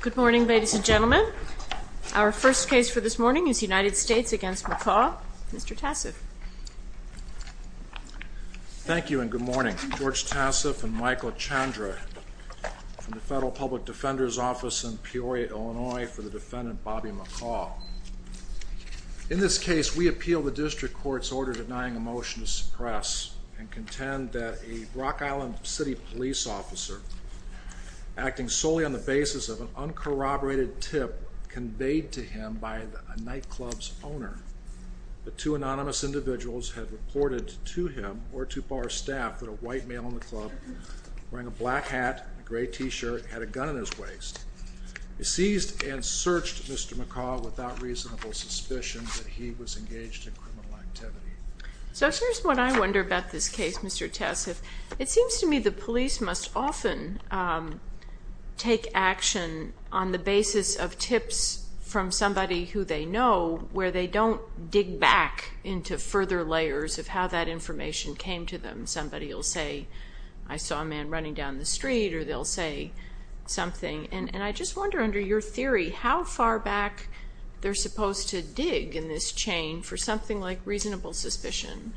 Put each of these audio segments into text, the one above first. Good morning ladies and gentlemen. Our first case for this morning is United States v. McCaw. Mr. Tassif. Thank you and good morning. George Tassif and Michael Chandra from the Federal Public Defender's Office in Peoria, Illinois for the defendant Bobby McCaw. In this case we appeal the district court's order denying a motion to suppress and contend that a Rock Island City police officer acting solely on the basis of an uncorroborated tip conveyed to him by a nightclub's owner. The two anonymous individuals had reported to him or to bar staff that a white male in the club wearing a black hat, a gray t-shirt, had a gun in his waist. He seized and searched Mr. McCaw without reasonable suspicion that he was engaged in criminal activity. So here's what I take action on the basis of tips from somebody who they know where they don't dig back into further layers of how that information came to them. Somebody will say I saw a man running down the street or they'll say something and and I just wonder under your theory how far back they're supposed to dig in this chain for something like reasonable suspicion.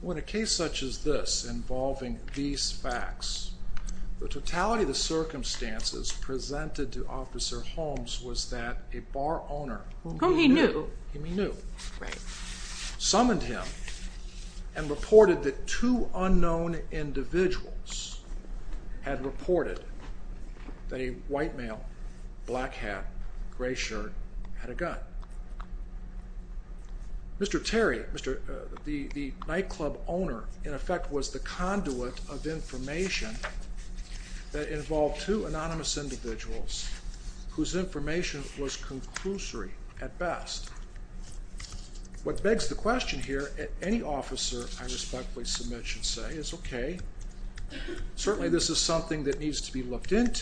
When a case such as this involving these facts, the totality of the circumstances presented to Officer Holmes was that a bar owner, whom he knew, summoned him and reported that two unknown individuals had reported that a white male, black hat, gray shirt, had a gun. Mr. Terry, the nightclub owner, in effect was the conduit of information that involved two anonymous individuals whose information was conclusory at best. What begs the question here, any officer I respectfully submit should say, is okay. Certainly this is something that needs to be looked at,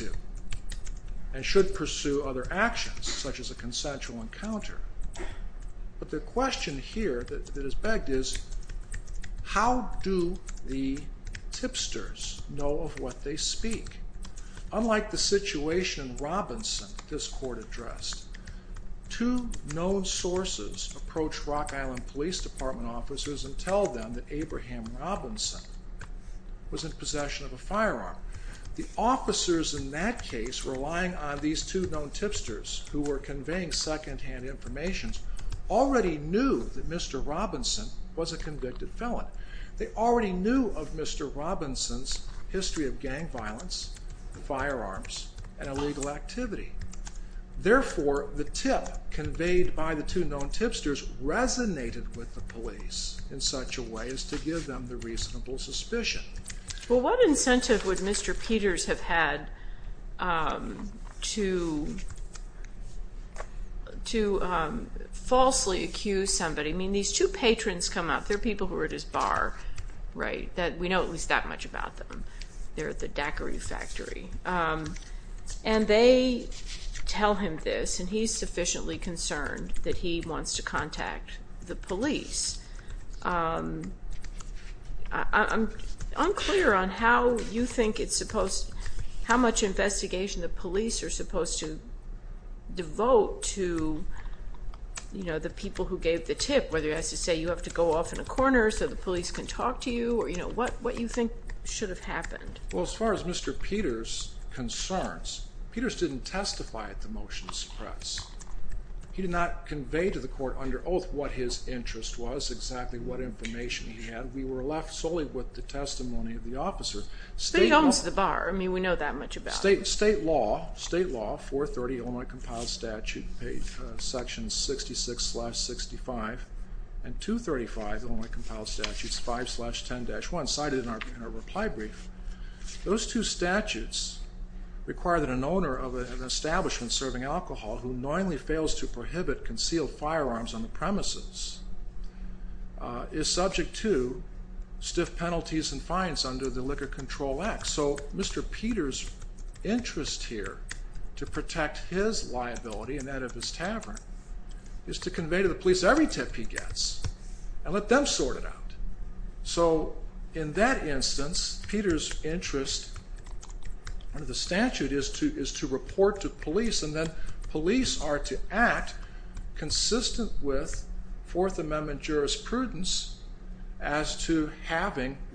but the question here that is begged is how do the tipsters know of what they speak? Unlike the situation in Robinson this court addressed, two known sources approach Rock Island Police Department officers and tell them that Abraham Robinson was in possession of a firearm. The officers in that case relying on these two known tipsters who were conveying second-hand information already knew that Mr. Robinson was a convicted felon. They already knew of Mr. Robinson's history of gang violence, firearms, and illegal activity. Therefore the tip conveyed by the two known tipsters resonated with the police in such a way as to give them the reasonable suspicion. Well what incentive would Mr. Peters have had to falsely accuse somebody? I mean these two patrons come up, they're people who were at his bar, right? We know at least that much about them. They're at the daiquiri factory. And they tell him this and he's sufficiently concerned that he wants to contact the police. I'm clear on how you think it's supposed, how much investigation the police are supposed to devote to, you know, the people who gave the tip. Whether it has to say you have to go off in a corner so the police can talk to you or, you know, what you think should have happened. Well as far as Mr. Peters concerns, Peters didn't testify at the motions press. He did not convey to the court under oath what his state law, state law, 430 Illinois compiled statute, section 66-65, and 235 Illinois compiled statute 5-10-1 cited in our reply brief, those two statutes require that an owner of an establishment serving alcohol who knowingly fails to prohibit concealed firearms on the premises is subject to stiff penalties and fines under the Liquor Control Act. So Mr. Peters interest here to protect his liability and that of his tavern is to convey to the police every tip he gets and let them sort it out. So in that instance, Peters interest under the statute is to is to report to police and then police are to act consistent with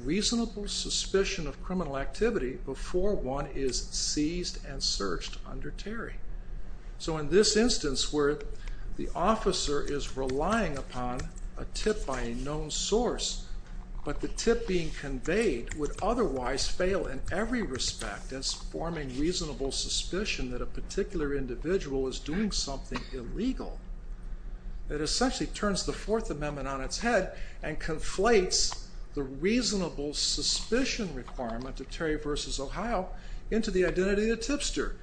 reasonable suspicion of criminal activity before one is seized and searched under Terry. So in this instance where the officer is relying upon a tip by a known source but the tip being conveyed would otherwise fail in every respect as forming reasonable suspicion that a particular individual is doing something illegal. It essentially turns the Fourth Amendment on its head and reasonable suspicion requirement of Terry v. Ohio into the identity of the tipster.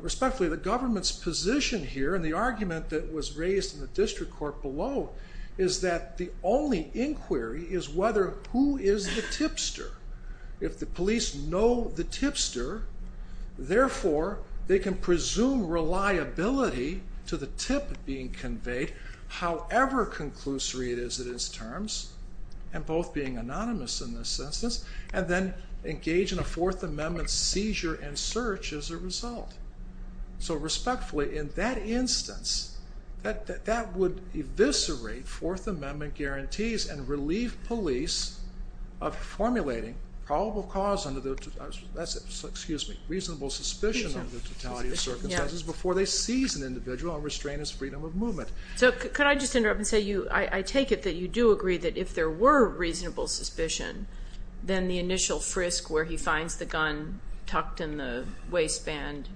Respectfully, the government's position here and the argument that was raised in the district court below is that the only inquiry is whether who is the tipster. If the police know the tipster, therefore they can presume reliability to the tip being conveyed however conclusory it is in its terms and both being anonymous in this instance and then engage in a Fourth Amendment seizure and search as a result. So respectfully in that instance that that would eviscerate Fourth Amendment guarantees and relieve police of formulating probable cause under the, excuse me, reasonable suspicion of the totality of circumstances before they seize an individual and restrain his freedom of movement. So could I just interrupt and say you I take it that you do agree that if there were reasonable suspicion then the initial frisk where he finds the gun tucked in the waistband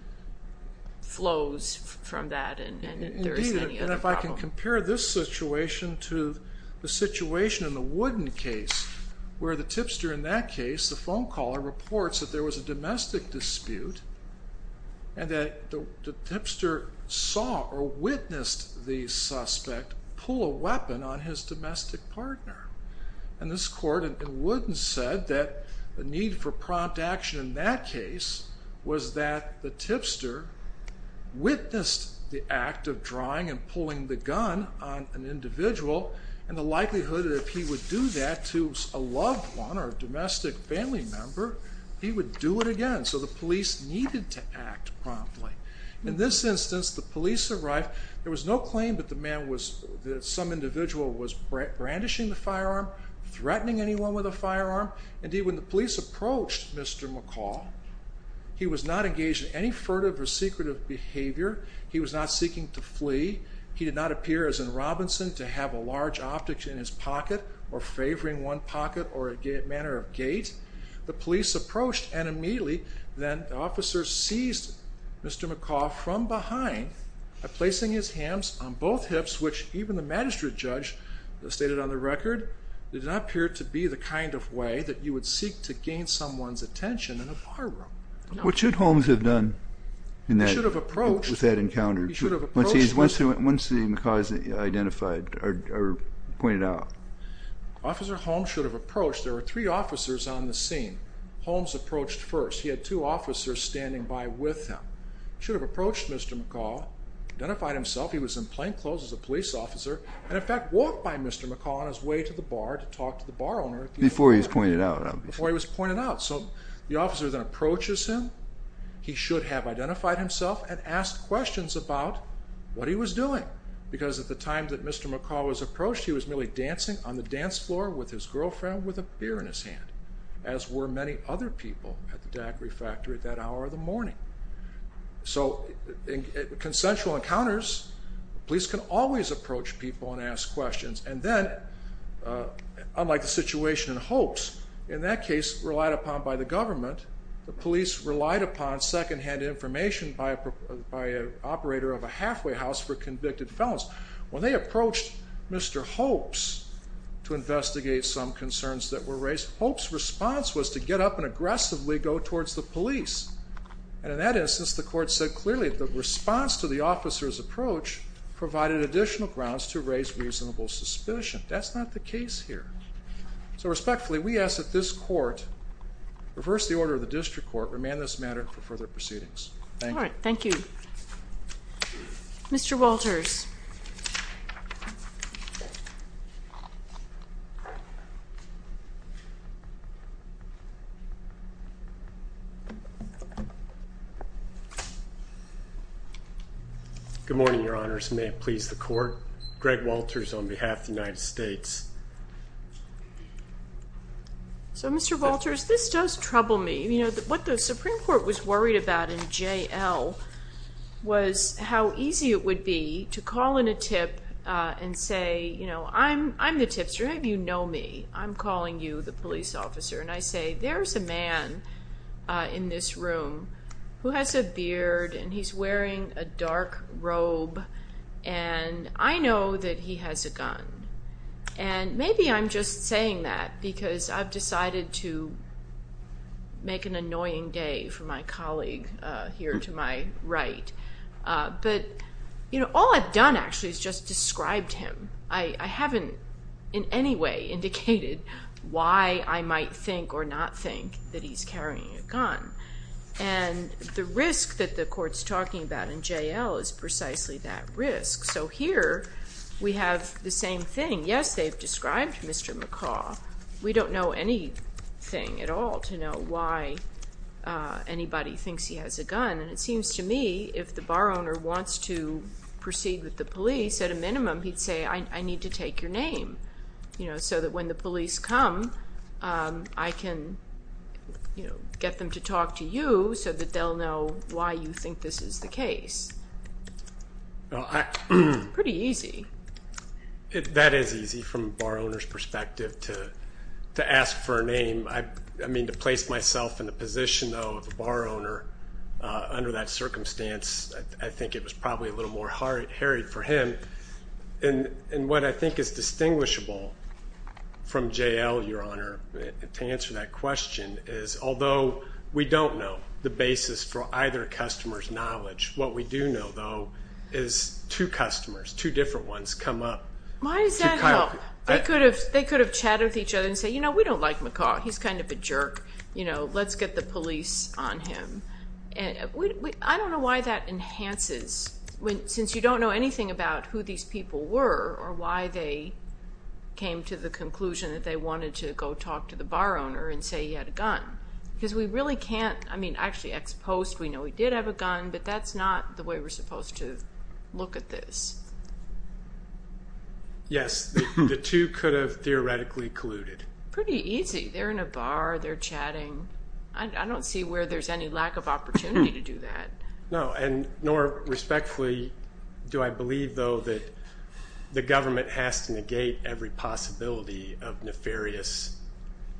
flows from that and if I can compare this situation to the situation in the Wooden case where the tipster in that case the phone caller reports that there was a domestic dispute and that the tipster saw or saw his domestic partner. And this court in Wooden said that the need for prompt action in that case was that the tipster witnessed the act of drawing and pulling the gun on an individual and the likelihood that if he would do that to a loved one or a domestic family member he would do it again. So the police needed to act promptly. In this instance the police arrived there was no claim that the man some individual was brandishing the firearm, threatening anyone with a firearm. Indeed when the police approached Mr. McCall he was not engaged in any furtive or secretive behavior. He was not seeking to flee. He did not appear as in Robinson to have a large object in his pocket or favoring one pocket or a manner of gait. The police approached and immediately then officers seized Mr. McCall from behind by placing his hands on both hips which even the magistrate judge stated on the record did not appear to be the kind of way that you would seek to gain someone's attention in a barroom. What should Holmes have done in that? He should have approached. With that encounter. He should have approached. Once he identified or pointed out. Officer Holmes should have approached. There were three officers standing by with him. Should have approached Mr. McCall. Identified himself. He was in plainclothes as a police officer and in fact walked by Mr. McCall on his way to the bar to talk to the bar owner. Before he was pointed out. Before he was pointed out. So the officer then approaches him. He should have identified himself and asked questions about what he was doing because at the time that Mr. McCall was approached he was merely dancing on the dance floor with his girlfriend with a beer in his hand as were many other people at the refractory at that hour of the morning. So in consensual encounters police can always approach people and ask questions and then unlike the situation in Hopes in that case relied upon by the government the police relied upon second-hand information by a operator of a halfway house for convicted felons. When they approached Mr. Hopes to investigate some concerns that were police and in that instance the court said clearly the response to the officer's approach provided additional grounds to raise reasonable suspicion. That's not the case here. So respectfully we ask that this court reverse the order of the district court remand this matter for further proceedings. Thank you. Thank you. Mr. Walters. Good morning, your honors. May it please the court. Greg Walters on behalf of the United States. So Mr. Walters, this does trouble me. You know what the Supreme Court was worried about in JL was how easy it would be to call in a tip and say you know I'm the tipster. You know me. I'm calling you the police officer and I say there's a man in this room who has a beard and he's wearing a dark robe and I know that he has a gun and maybe I'm just saying that because I've decided to make an annoying day for my colleague here to my right but you know all I've done actually is just described him. I haven't in any way indicated why I might think or not think that he's carrying a gun and the risk that the court's talking about in JL is precisely that risk. So here we have the same thing. Yes they've described Mr. McCaw. We don't know anything at all to know why anybody thinks he has a gun and it seems to me if the bar owner wants to proceed with the police at a minimum he'd say I need to take your name you know so that when the police come I can you know get them to talk to you so that they'll know why you think this is the case. Pretty easy. That is easy from a bar owner's perspective to to ask for a name. I mean to place myself in the position though of a bar owner under that circumstance I think it was probably a little more hairy for him and and what I think is distinguishable from JL your honor to answer that question is although we don't know the basis for either customers knowledge what we do know though is two customers two different ones come up. Why is that? They could have chatted with each other and say you know we don't like McCaw he's kind of a jerk you know let's get the know anything about who these people were or why they came to the conclusion that they wanted to go talk to the bar owner and say he had a gun because we really can't I mean actually ex-post we know he did have a gun but that's not the way we're supposed to look at this. Yes the two could have theoretically colluded. Pretty easy they're in a bar they're chatting I don't see where there's any lack of opportunity to do that. No and nor respectfully do I believe though that the government has to negate every possibility of nefarious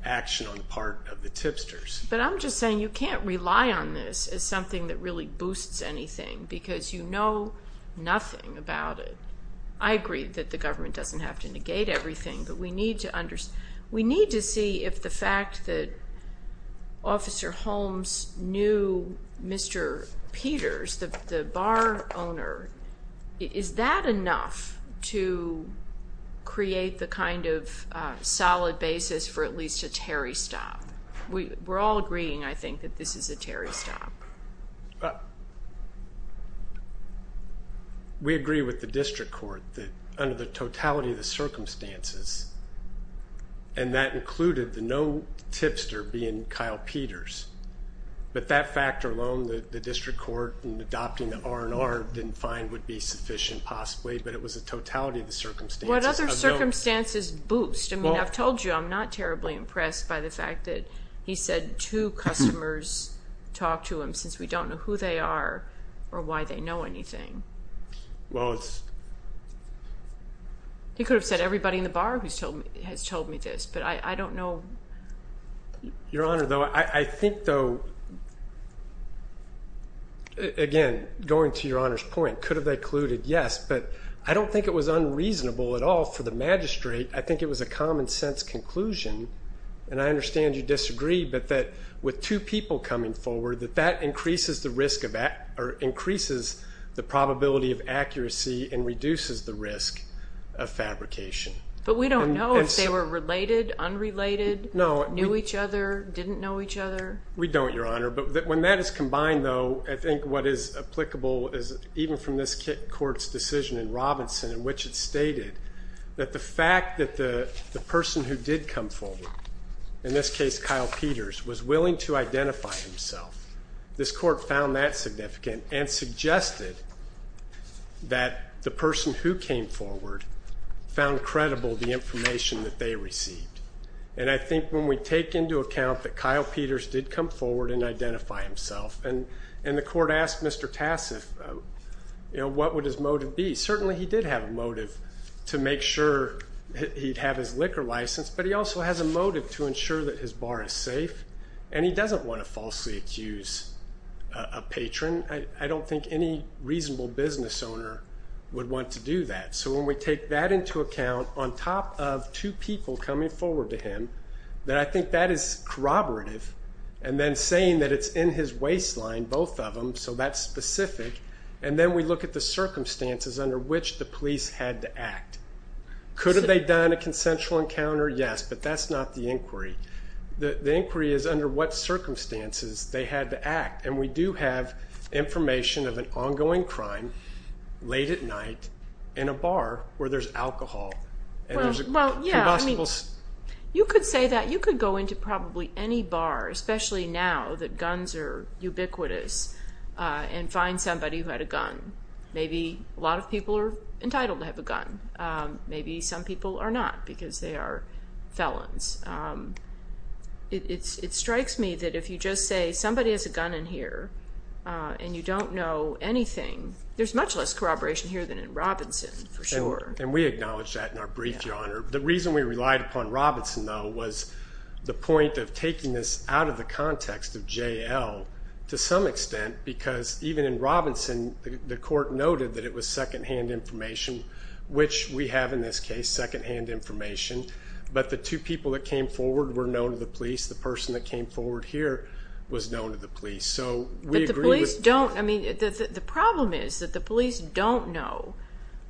action on the part of the tipsters. But I'm just saying you can't rely on this as something that really boosts anything because you know nothing about it. I agree that the government doesn't have to negate everything but we need to see if the fact that officer Holmes knew Mr. Peters the bar owner is that enough to create the kind of solid basis for at least a Terry stop. We're all agreeing I think that this is a Terry stop. We agree with the district court that under the totality of the circumstances and that included the no tipster being Kyle Peters but that factor alone the district court and adopting the R&R didn't find would be sufficient possibly but it was a totality of the circumstances. What other circumstances boost I mean I've told you I'm not terribly impressed by the fact that he said two customers talk to him since we don't know who they are or why they know anything. Well it's he could have said everybody in the bar who's told me has told me this but I don't know. Your honor though I think though again going to your honors point could have they colluded yes but I don't think it was unreasonable at all for the magistrate I think it was a common-sense conclusion and I understand you disagree but that with two people coming forward that that increases the probability of accuracy and reduces the risk of fabrication. But we don't know if they were related, unrelated, knew each other, didn't know each other. We don't your honor but when that is combined though I think what is applicable is even from this court's decision in Robinson in which it stated that the fact that the the person who did come forward in this case Kyle Peters was willing to identify himself. This court found that significant and suggested that the person who came forward found credible the information that they received and I think when we take into account that Kyle Peters did come forward and identify himself and and the court asked Mr. Tassif you know what would his motive be certainly he did have a motive to make sure he'd have his liquor license but he also has a motive to ensure that his bar is safe and he doesn't want to falsely accuse a patron. I don't think any reasonable business owner would want to do that so when we take that into account on top of two people coming forward to him that I think that is corroborative and then saying that it's in his waistline both of them so that's specific and then we look at the circumstances under which the police had to act. Could have they done a consensual encounter? Yes, but that's not the inquiry. The inquiry is under what circumstances they had to act and we do have information of an ongoing crime late at night in a bar where there's alcohol. You could say that you could go into probably any bar especially now that guns are ubiquitous and find somebody who had a gun. Maybe a lot of people are entitled to have a gun. Maybe some people are not because they are felons. It strikes me that if you just say somebody has a gun in here and you don't know anything there's much less corroboration here than in Robinson for sure. And we acknowledge that in our brief your honor. The reason we relied upon Robinson though was the point of taking this out of the context of JL to some extent because even in Robinson the second-hand information which we have in this case second-hand information but the two people that came forward were known to the police. The person that came forward here was known to the police. But the police don't, I mean the problem is that the police don't know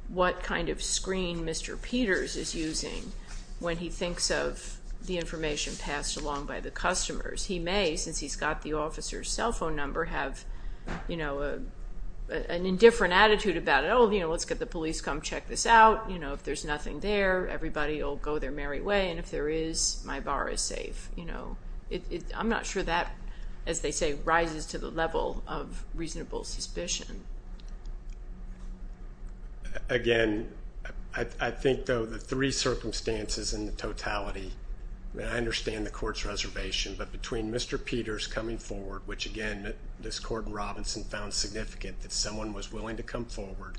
what kind of screen Mr. Peters is using when he thinks of the information passed along by the customers. He may, since he's got the officer's cell phone number, have you know an indifferent attitude about oh you know let's get the police come check this out. You know if there's nothing there everybody will go their merry way and if there is my bar is safe. You know it I'm not sure that as they say rises to the level of reasonable suspicion. Again I think though the three circumstances in the totality, and I understand the court's reservation, but between Mr. Peters coming forward which again this court in Robinson found significant that someone was willing to come forward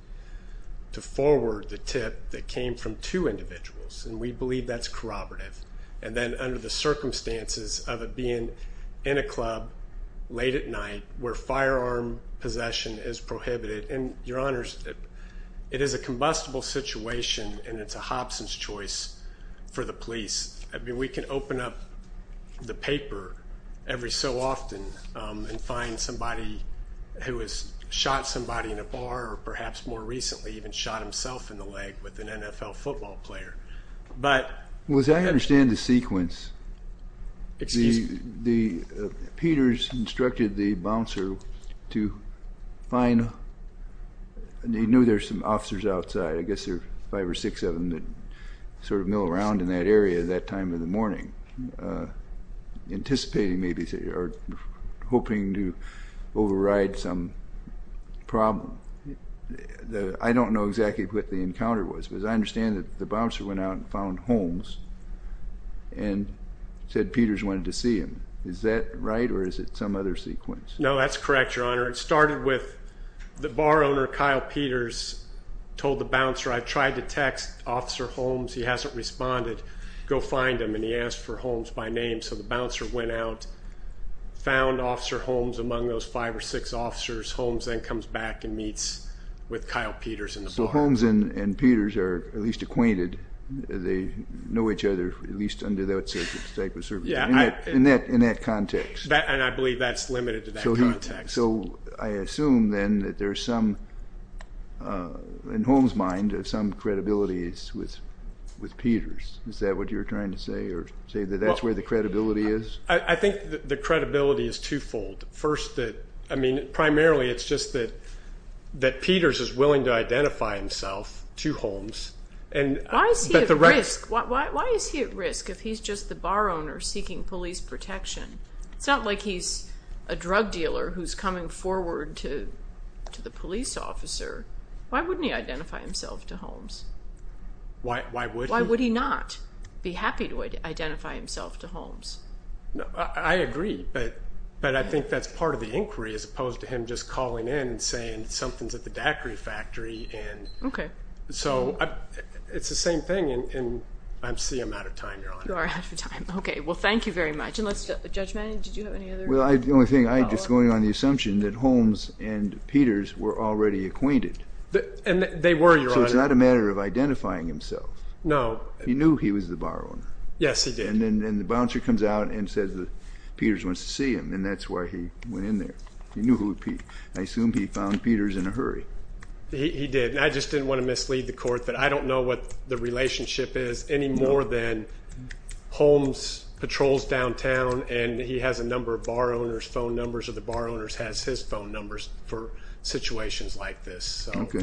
to forward the tip that came from two individuals and we believe that's corroborative. And then under the circumstances of it being in a club late at night where firearm possession is prohibited and your honors it is a combustible situation and it's a Hobson's choice for the police. I mean we can open up the paper every so often and find somebody who has shot somebody in a leg or perhaps more recently even shot himself in the leg with an NFL football player. But... Well as I understand the sequence, Peters instructed the bouncer to find, they knew there's some officers outside I guess there's five or six of them that sort of mill around in that area at that time of the morning anticipating maybe they are hoping to override some problem. I don't know exactly what the encounter was because I understand that the bouncer went out and found Holmes and said Peters wanted to see him. Is that right or is it some other sequence? No that's correct your honor. It started with the bar owner Kyle Peters told the bouncer I tried to text officer Holmes he hasn't responded go find him and he asked for Holmes by name so the bouncer went out found officer Holmes among those five or six officers Holmes then comes back and meets with Kyle Peters in the bar. So Holmes and Peters are at least acquainted they know each other at least under that type of circumstance in that context. And I believe that's limited to that context. So I assume then that there's some in Holmes mind of some credibility is with with Peters is that what you're trying to say or say that that's where the credibility is? I think the credibility is twofold. First that I mean primarily it's just that that Peters is willing to identify himself to Holmes. Why is he at risk if he's just the bar owner seeking police protection? It's not like he's a drug dealer who's coming forward to to the police officer. Why wouldn't he identify himself to Holmes? Why would he not be happy to identify himself to Holmes? I agree but but I think that's part of the inquiry as opposed to him just calling in and saying something's at the daiquiri factory and okay so it's the same thing and I'm seeing I'm out of time. You're out of time. Okay well thank you very much. Judge Manning did you have any other? Well the only thing I just going on the It's not a matter of identifying himself. No. He knew he was the bar owner. Yes he did. And then the bouncer comes out and says that Peters wants to see him and that's why he went in there. He knew who it would be. I assume he found Peters in a hurry. He did and I just didn't want to mislead the court that I don't know what the relationship is any more than Holmes patrols downtown and he has a number of bar owners phone numbers or the bar owners has his phone numbers for thank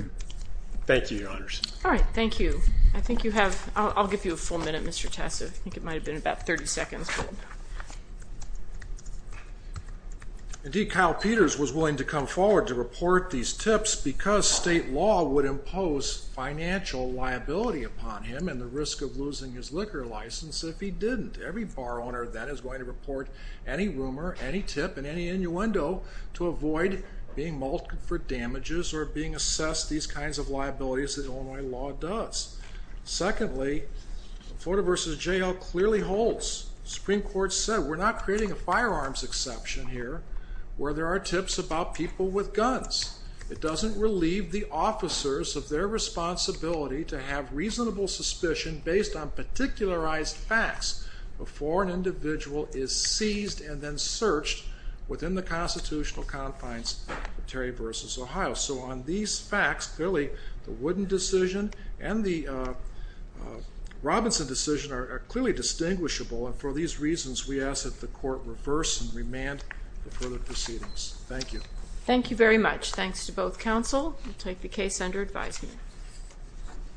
you your honors. All right thank you. I think you have I'll give you a full minute Mr. Tessa. I think it might have been about 30 seconds. Indeed Kyle Peters was willing to come forward to report these tips because state law would impose financial liability upon him and the risk of losing his liquor license if he didn't. Every bar owner that is going to report any rumor any tip and any to avoid being mauled for damages or being assessed these kinds of liabilities that Illinois law does. Secondly Florida versus jail clearly holds. Supreme Court said we're not creating a firearms exception here where there are tips about people with guns. It doesn't relieve the officers of their responsibility to have reasonable suspicion based on particularized facts before an individual is seized and then searched within the constitutional confines of Terry versus Ohio. So on these facts clearly the Wooden decision and the Robinson decision are clearly distinguishable and for these reasons we ask that the court reverse and remand the further proceedings. Thank you. Thank you very much. Thanks to both counsel. We'll take the case under advisement.